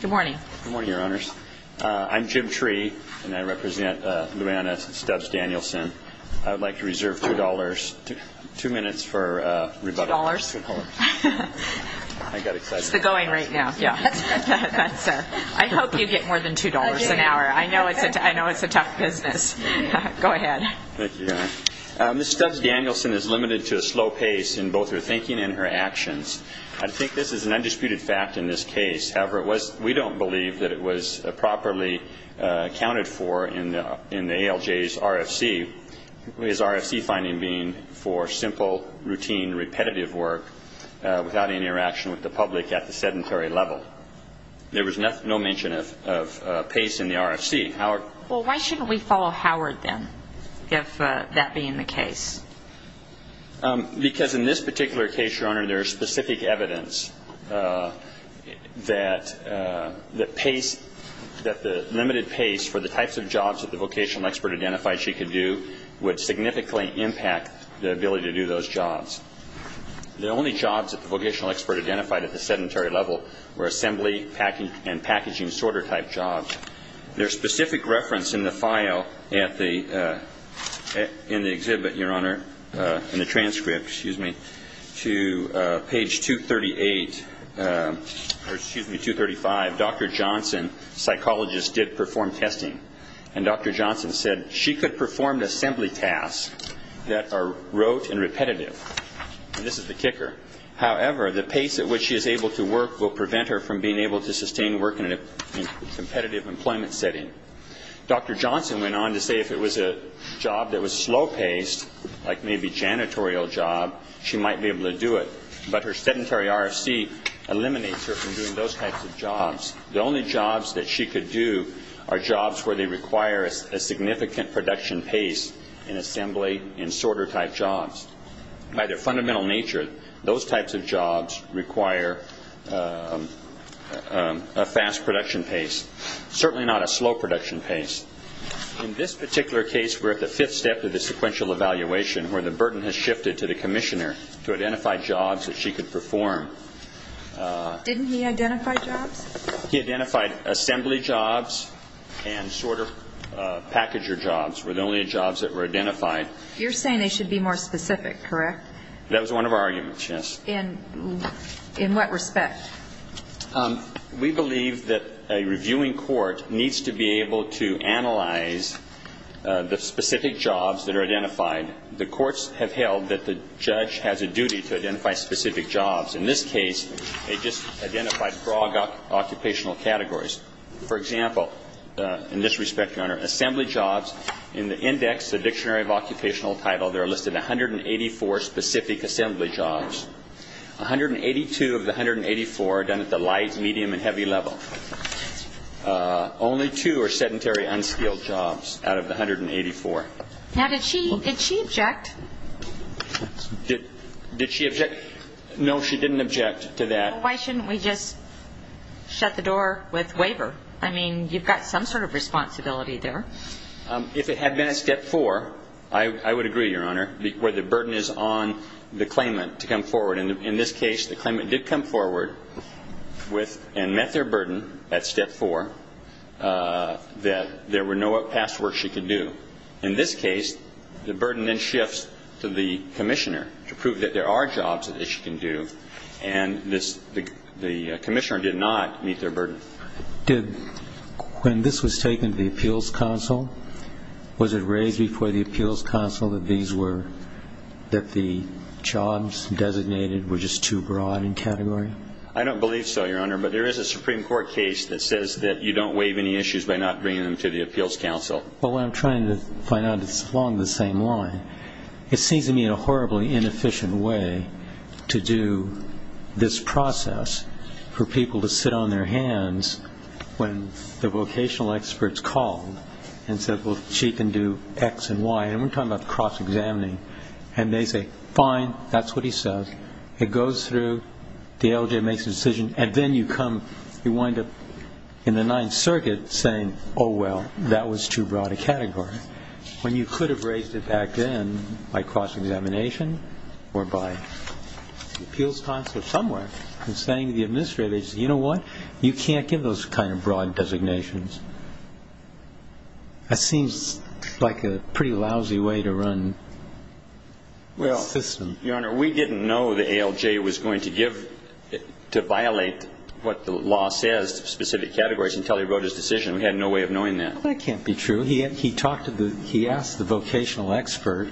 Good morning. Good morning, Your Honors. I'm Jim Tree, and I represent Luanna Stubbs-Danielson. I would like to reserve two dollars, two minutes for rebuttal. Two dollars? I got excited. It's the going right now. I hope you get more than two dollars an hour. I know it's a tough business. Go ahead. Thank you, Your Honor. Ms. Stubbs-Danielson is limited to a slow pace in both her thinking and her actions. I think this is an undisputed fact in this case. However, we don't believe that it was properly accounted for in the ALJ's RFC, his RFC finding being for simple, routine, repetitive work without any interaction with the public at the sedentary level. There was no mention of pace in the RFC. Well, why shouldn't we follow Howard, then, if that being the case? Because in this particular case, Your Honor, there is specific evidence that the limited pace for the types of jobs that the vocational expert identified she could do would significantly impact the ability to do those jobs. The only jobs that the vocational expert identified at the sedentary level were assembly and packaging sorter type jobs. There's specific reference in the file in the exhibit, Your Honor, in the transcript, excuse me, to page 238 or, excuse me, 235. Dr. Johnson, psychologist, did perform testing. And Dr. Johnson said she could perform assembly tasks that are rote and repetitive. And this is the kicker. However, the pace at which she is able to work will prevent her from being able to sustain work in a competitive employment setting. Dr. Johnson went on to say if it was a job that was slow-paced, like maybe janitorial job, she might be able to do it. But her sedentary RFC eliminates her from doing those types of jobs. The only jobs that she could do are jobs where they require a significant production pace in assembly and sorter type jobs. By their fundamental nature, those types of jobs require a fast production pace, certainly not a slow production pace. In this particular case, we're at the fifth step of the sequential evaluation, where the burden has shifted to the commissioner to identify jobs that she could perform. Didn't he identify jobs? He identified assembly jobs and sorter packager jobs were the only jobs that were identified. You're saying they should be more specific, correct? That was one of our arguments, yes. In what respect? We believe that a reviewing court needs to be able to analyze the specific jobs that are identified. The courts have held that the judge has a duty to identify specific jobs. In this case, they just identified broad occupational categories. For example, in this respect, Your Honor, assembly jobs in the index, the dictionary of occupational title, there are listed 184 specific assembly jobs. 182 of the 184 are done at the light, medium, and heavy level. Only two are sedentary, unskilled jobs out of the 184. Now, did she object? Did she object? No, she didn't object to that. But why shouldn't we just shut the door with waiver? I mean, you've got some sort of responsibility there. If it had been at step four, I would agree, Your Honor, where the burden is on the claimant to come forward. In this case, the claimant did come forward and met their burden at step four that there were no past works she could do. In this case, the burden then shifts to the commissioner to prove that there are jobs that she can do and the commissioner did not meet their burden. Did, when this was taken to the appeals council, was it raised before the appeals council that these were, that the jobs designated were just too broad in category? I don't believe so, Your Honor, but there is a Supreme Court case that says that you don't waive any issues by not bringing them to the appeals council. Well, what I'm trying to find out is along the same line. It seems to me a horribly inefficient way to do this process for people to sit on their hands when the vocational experts call and say, well, she can do X and Y. And we're talking about cross-examining. And they say, fine, that's what he says. It goes through. The LJ makes a decision. And then you wind up in the Ninth Circuit saying, oh, well, that was too broad a category when you could have raised it back then by cross-examination or by the appeals council somewhere and saying to the administrators, you know what? You can't give those kind of broad designations. That seems like a pretty lousy way to run the system. Your Honor, we didn't know the ALJ was going to violate what the law says, specific categories, until he wrote his decision. We had no way of knowing that. Well, that can't be true. He asked the vocational expert,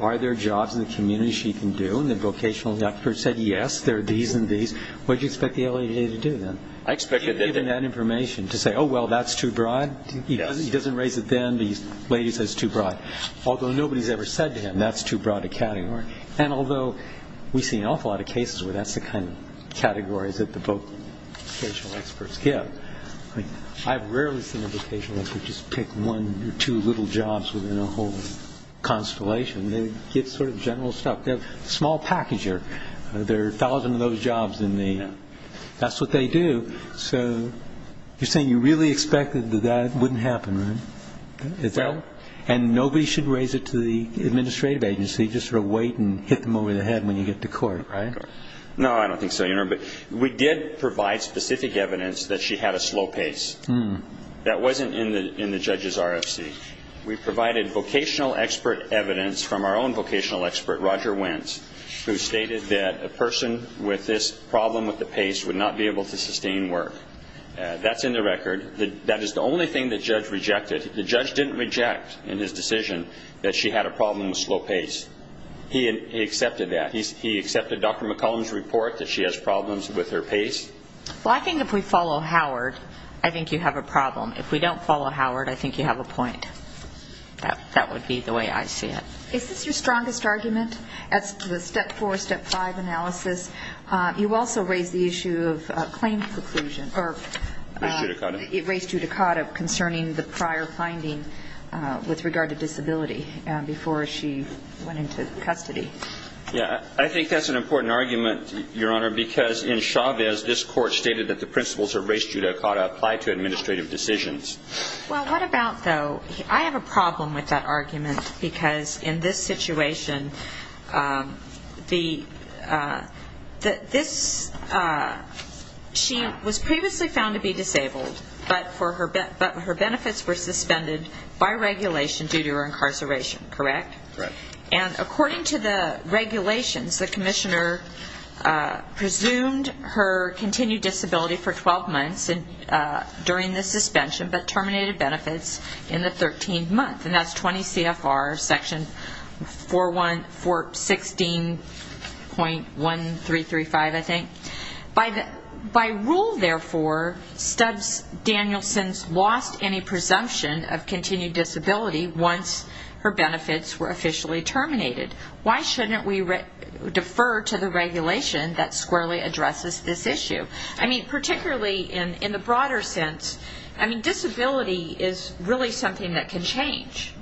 are there jobs in the community she can do? And the vocational expert said, yes, there are these and these. What did you expect the ALJ to do then? He had given that information to say, oh, well, that's too broad. He doesn't raise it then. The lady says it's too broad. Although nobody's ever said to him, that's too broad a category. And although we see an awful lot of cases where that's the kind of categories that the vocational experts give, I've rarely seen a vocational expert just pick one or two little jobs within a whole constellation. They give sort of general stuff. They're a small packager. There are a thousand of those jobs in the ______. That's what they do. So you're saying you really expected that that wouldn't happen, right? Well ______. Nobody should raise it to the administrative agency, just sort of wait and hit them over the head when you get to court, right? No, I don't think so. We did provide specific evidence that she had a slow pace. That wasn't in the judge's RFC. We provided vocational expert evidence from our own vocational expert, Roger Wentz, who stated that a person with this problem with the pace would not be able to sustain work. That's in the record. That is the only thing the judge rejected. The judge didn't reject in his decision that she had a problem with slow pace. He accepted that. He accepted Dr. McCollum's report that she has problems with her pace. Well, I think if we follow Howard, I think you have a problem. If we don't follow Howard, I think you have a point. That would be the way I see it. Is this your strongest argument as to the Step 4, Step 5 analysis? You also raised the issue of claim preclusion, or race judicata, concerning the prior finding with regard to disability before she went into custody. Yeah, I think that's an important argument, Your Honor, because in Chavez this court stated that the principles of race judicata apply to administrative decisions. Well, what about, though, I have a problem with that argument because in this situation she was previously found to be disabled, but her benefits were suspended by regulation due to her incarceration, correct? Correct. And according to the regulations, the commissioner presumed her continued disability for 12 months during the suspension but terminated benefits in the 13th month. And that's 20 CFR section 16.1335, I think. By rule, therefore, Danielson's lost any presumption of continued disability once her benefits were officially terminated. Why shouldn't we defer to the regulation that squarely addresses this issue? I mean, particularly in the broader sense, I mean, disability is really something that can change.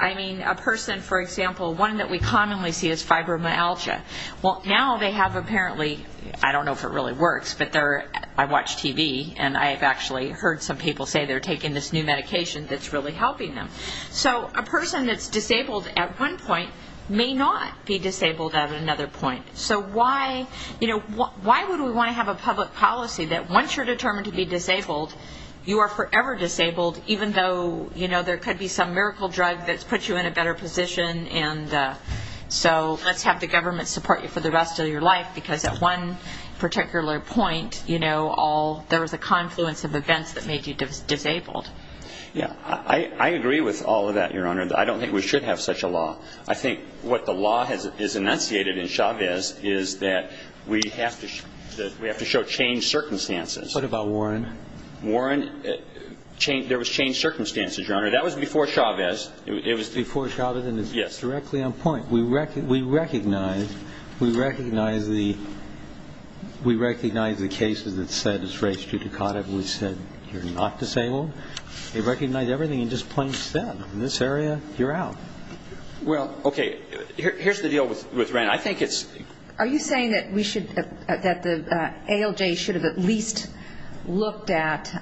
I mean, a person, for example, one that we commonly see is fibromyalgia. Well, now they have apparently, I don't know if it really works, but I watch TV and I've actually heard some people say they're taking this new medication that's really helping them. So a person that's disabled at one point may not be disabled at another point. So why would we want to have a public policy that once you're determined to be disabled you are forever disabled even though, you know, there could be some miracle drug that puts you in a better position and so let's have the government support you for the rest of your life because at one particular point, you know, there was a confluence of events that made you disabled. Yeah, I agree with all of that, Your Honor. I don't think we should have such a law. I think what the law has enunciated in Chavez is that we have to show changed circumstances. What about Warren? Warren, there was changed circumstances, Your Honor. That was before Chavez. It was before Chavez and it's directly on point. We recognize the cases that said it's race judicata. We said you're not disabled. They recognized everything and just plain said, in this area, you're out. Well, okay, here's the deal with Wren. Are you saying that the ALJ should have at least looked at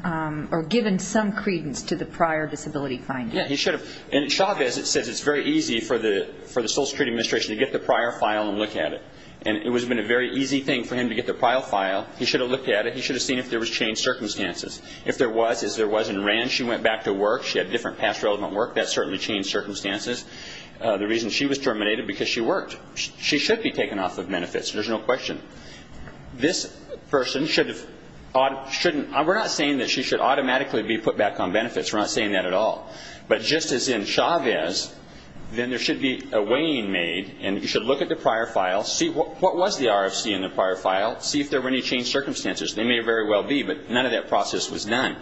or given some credence to the prior disability finding? Yeah, he should have. In Chavez it says it's very easy for the Social Security Administration to get the prior file and look at it, and it would have been a very easy thing for him to get the prior file. He should have looked at it. He should have seen if there was changed circumstances. If there was, as there was in Wren, she went back to work. She had different past relevant work. That certainly changed circumstances. The reason she was terminated, because she worked. She should be taken off of benefits. There's no question. This person should have ought to, shouldn't, we're not saying that she should automatically be put back on benefits. We're not saying that at all. But just as in Chavez, then there should be a weighing made and you should look at the prior file, see what was the RFC in the prior file, see if there were any changed circumstances. They may very well be, but none of that process was done.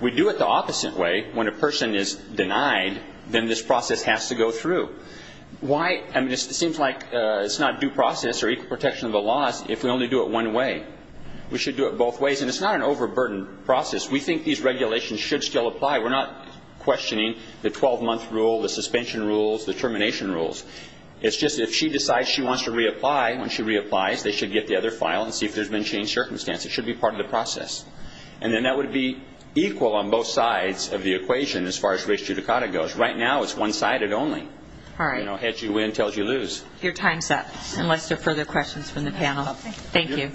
We do it the opposite way. When a person is denied, then this process has to go through. It seems like it's not due process or equal protection of the laws if we only do it one way. We should do it both ways, and it's not an overburdened process. We think these regulations should still apply. We're not questioning the 12-month rule, the suspension rules, the termination rules. It's just if she decides she wants to reapply, when she reapplies, they should get the other file and see if there's been changed circumstances. It should be part of the process. And then that would be equal on both sides of the equation as far as race judicata goes. Right now it's one-sided only. All right. You know, heads you win, tails you lose. Your time's up, unless there are further questions from the panel. Thank you.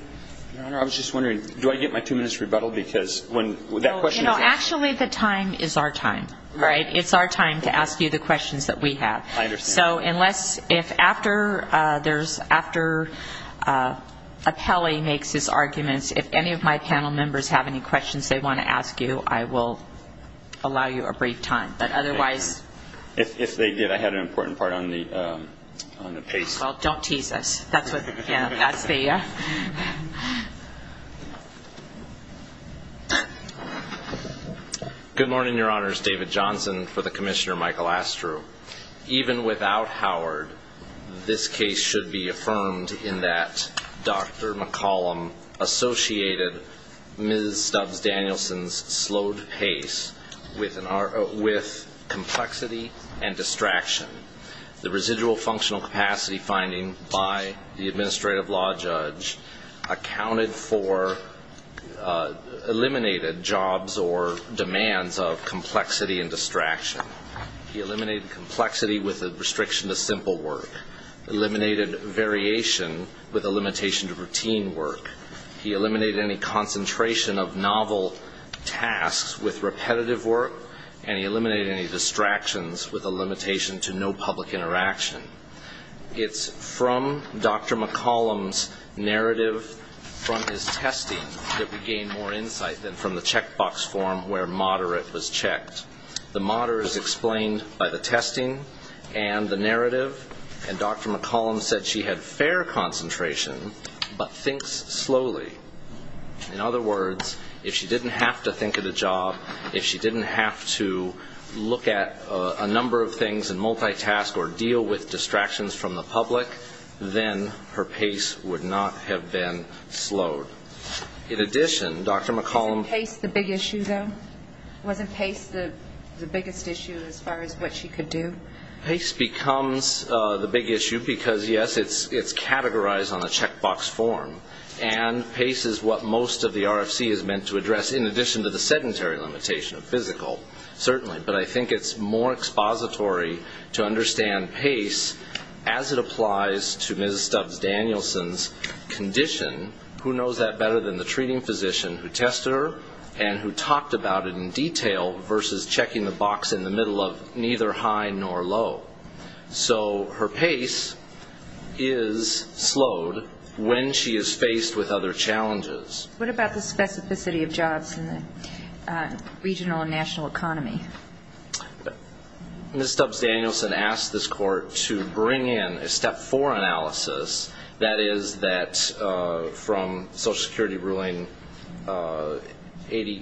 Your Honor, I was just wondering, do I get my two minutes rebuttal? Because when that question is asked. Actually, the time is our time, right? It's our time to ask you the questions that we have. I understand. So unless, if after there's, after appellee makes his arguments, if any of my panel members have any questions they want to ask you, I will allow you a brief time. But otherwise. If they did, I had an important part on the pace. Well, don't tease us. That's what, yeah, that's the. Good morning, Your Honors. David Johnson for the Commissioner Michael Astru. Even without Howard, this case should be affirmed in that Dr. McCollum associated Ms. Stubbs Danielson's slowed pace with complexity and distraction. The residual functional capacity finding by the administrative law judge accounted for, eliminated jobs or demands of complexity and distraction. He eliminated complexity with a restriction to simple work. Eliminated variation with a limitation to routine work. He eliminated any concentration of novel tasks with repetitive work. And he eliminated any distractions with a limitation to no public interaction. It's from Dr. McCollum's narrative from his testing that we gain more insight than from the checkbox form where moderate was checked. The moderate is explained by the testing and the narrative. And Dr. McCollum said she had fair concentration but thinks slowly. In other words, if she didn't have to think of the job, if she didn't have to look at a number of things and multitask or deal with distractions from the public, then her pace would not have been slowed. In addition, Dr. McCollum. Wasn't pace the big issue, though? Wasn't pace the biggest issue as far as what she could do? Pace becomes the big issue because, yes, it's categorized on a checkbox form. And pace is what most of the RFC is meant to address, in addition to the sedentary limitation of physical, certainly. But I think it's more expository to understand pace as it applies to Ms. Stubbs Danielson's condition. Who knows that better than the treating physician who tested her and who talked about it in detail versus checking the box in the middle of neither high nor low? So her pace is slowed when she is faced with other challenges. What about the specificity of jobs in the regional and national economy? Ms. Stubbs Danielson asked this court to bring in a step four analysis, that is that from Social Security ruling 80,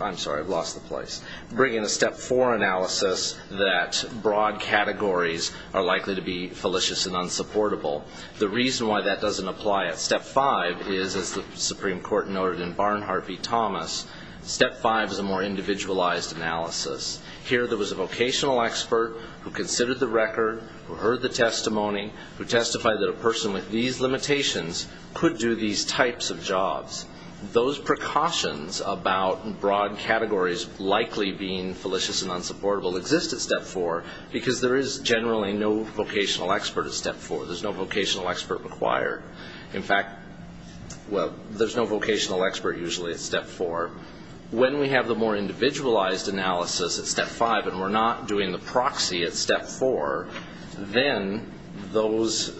I'm sorry, I've lost the place, bring in a step four analysis that broad categories are likely to be fallacious and unsupportable. The reason why that doesn't apply at step five is, as the Supreme Court noted in Barnhart v. Thomas, step five is a more individualized analysis. Here there was a vocational expert who considered the record, who heard the testimony, who testified that a person with these limitations could do these types of jobs. Those precautions about broad categories likely being fallacious and unsupportable exist at step four because there is generally no vocational expert at step four. There's no vocational expert required. In fact, well, there's no vocational expert usually at step four. When we have the more individualized analysis at step five and we're not doing the proxy at step four, then those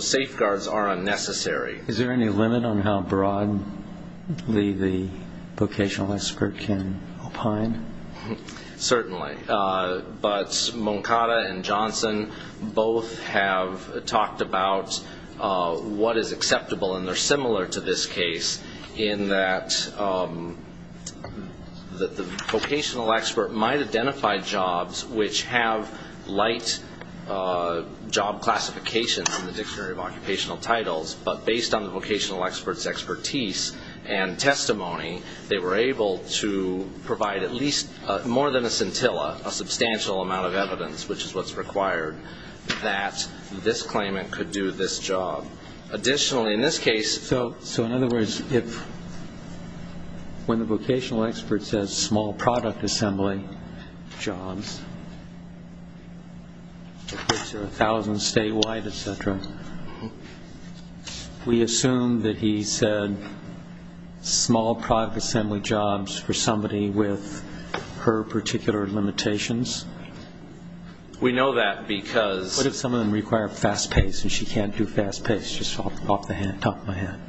safeguards are unnecessary. Is there any limit on how broadly the vocational expert can opine? Certainly. But Moncada and Johnson both have talked about what is acceptable, and they're similar to this case in that the vocational expert might identify jobs which have light job classifications in the Dictionary of Occupational Titles, but based on the vocational expert's expertise and testimony, they were able to provide at least more than a scintilla, a substantial amount of evidence, which is what's required, that this claimant could do this job. Additionally, in this case... So in other words, when the vocational expert says small product assembly jobs, which are 1,000 statewide, et cetera, we assume that he said small product assembly jobs for somebody with her particular limitations? We know that because... Top of my head.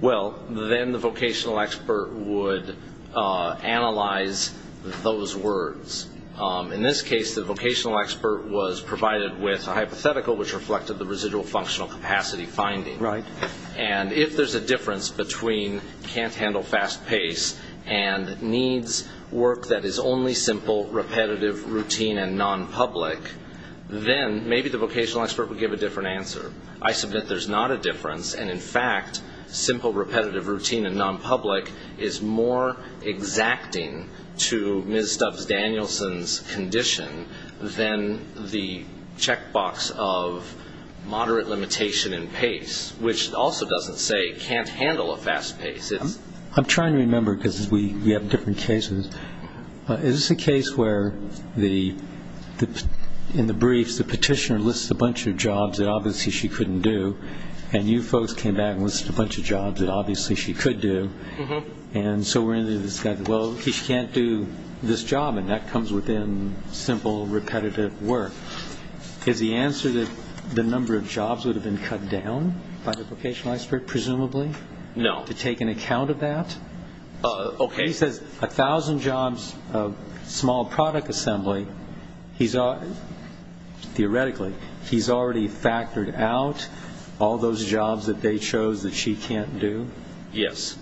Well, then the vocational expert would analyze those words. In this case, the vocational expert was provided with a hypothetical, which reflected the residual functional capacity finding. Right. And if there's a difference between can't handle fast pace and needs work that is only simple, repetitive, routine, and non-public, then maybe the vocational expert would give a different answer. I submit there's not a difference, and, in fact, simple, repetitive, routine, and non-public is more exacting to Ms. Stubbs-Danielson's condition than the check box of moderate limitation in pace, which also doesn't say can't handle a fast pace. I'm trying to remember because we have different cases. Is this a case where, in the briefs, the petitioner lists a bunch of jobs that obviously she couldn't do, and you folks came back and listed a bunch of jobs that obviously she could do, and so we're going to say, well, she can't do this job, and that comes within simple, repetitive work. Is the answer that the number of jobs would have been cut down by the vocational expert, presumably? No. To take an account of that? Okay. He says 1,000 jobs of small product assembly. Theoretically, he's already factored out all those jobs that they chose that she can't do? Yes.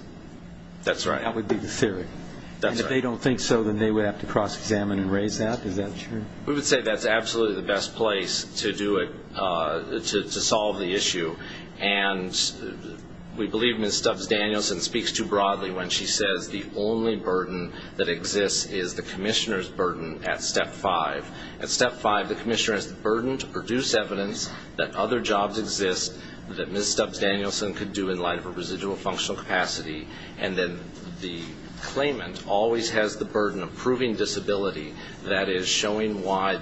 That's right. That would be the theory? That's right. And if they don't think so, then they would have to cross-examine and raise that? Is that true? We would say that's absolutely the best place to do it, to solve the issue, and we believe Ms. Stubbs-Danielson speaks too broadly when she says the only burden that exists is the commissioner's burden at Step 5. At Step 5, the commissioner has the burden to produce evidence that other jobs exist that Ms. Stubbs-Danielson could do in light of her residual functional capacity, and then the claimant always has the burden of proving disability, that is, showing why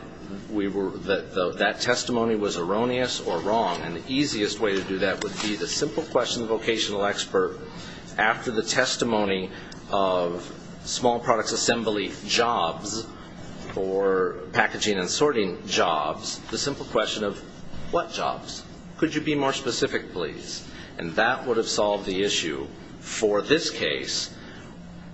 that testimony was erroneous or wrong, and the easiest way to do that would be the simple question of the vocational expert. After the testimony of small products assembly jobs or packaging and sorting jobs, the simple question of what jobs? Could you be more specific, please? And that would have solved the issue. For this case,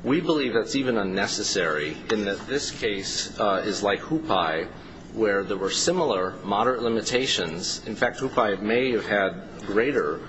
we believe that's even unnecessary in that this case is like HUPAI, where there were similar moderate limitations. In fact, HUPAI may have had greater,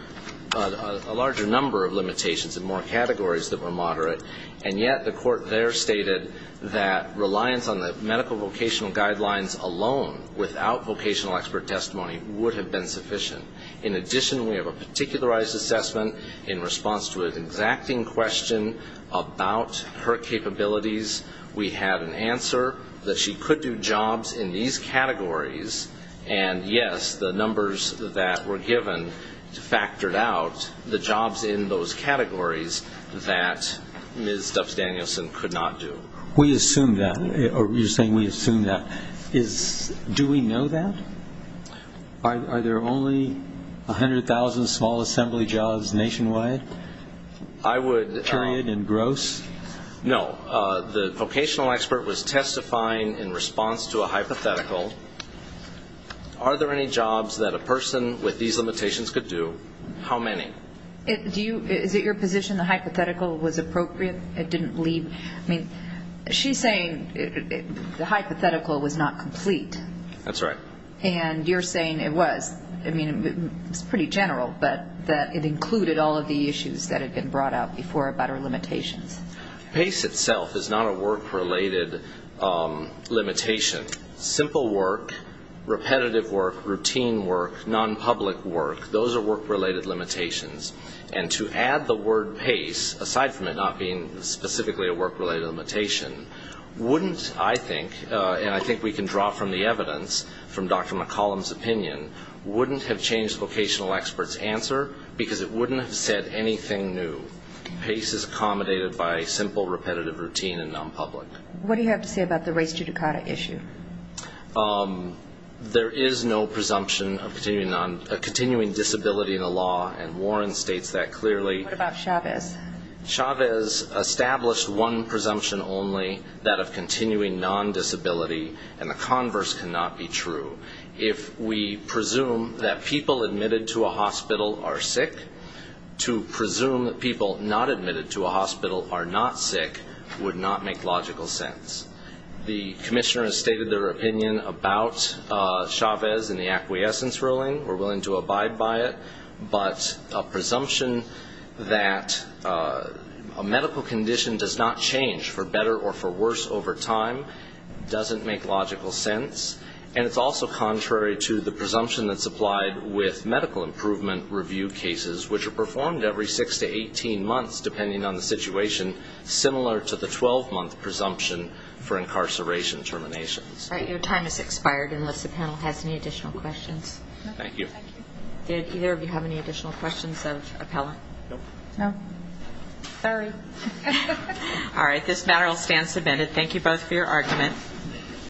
a larger number of limitations and more categories that were moderate, and yet the court there stated that reliance on the medical vocational guidelines alone without vocational expert testimony would have been sufficient. In addition, we have a particularized assessment in response to an exacting question about her capabilities. We had an answer that she could do jobs in these categories, and, yes, the numbers that were given factored out the jobs in those categories that Ms. Stubbs-Danielson could not do. We assume that. You're saying we assume that. Do we know that? Are there only 100,000 small assembly jobs nationwide, period, and gross? No. The vocational expert was testifying in response to a hypothetical. Are there any jobs that a person with these limitations could do? How many? Is it your position the hypothetical was appropriate? It didn't leave? I mean, she's saying the hypothetical was not complete. That's right. And you're saying it was. I mean, it's pretty general, but that it included all of the issues that had been brought up before about her limitations. PACE itself is not a work-related limitation. Simple work, repetitive work, routine work, non-public work, those are work-related limitations. And to add the word PACE, aside from it not being specifically a work-related limitation, wouldn't, I think, and I think we can draw from the evidence from Dr. McCollum's opinion, wouldn't have changed vocational expert's answer because it wouldn't have said anything new. PACE is accommodated by simple, repetitive routine and non-public. What do you have to say about the race judicata issue? There is no presumption of continuing disability in the law, and Warren states that clearly. What about Chavez? Chavez established one presumption only, that of continuing non-disability, and the converse cannot be true. If we presume that people admitted to a hospital are sick, to presume that people not admitted to a hospital are not sick would not make logical sense. The commissioner has stated their opinion about Chavez in the acquiescence ruling. We're willing to abide by it. But a presumption that a medical condition does not change for better or for worse over time doesn't make logical sense. And it's also contrary to the presumption that's applied with medical improvement review cases, which are performed every six to 18 months, depending on the situation, similar to the 12-month presumption for incarceration terminations. All right. Your time has expired unless the panel has any additional questions. Thank you. Thank you. Did either of you have any additional questions of Appella? No. No? Sorry. All right. This matter will stand submitted. Thank you both for your argument.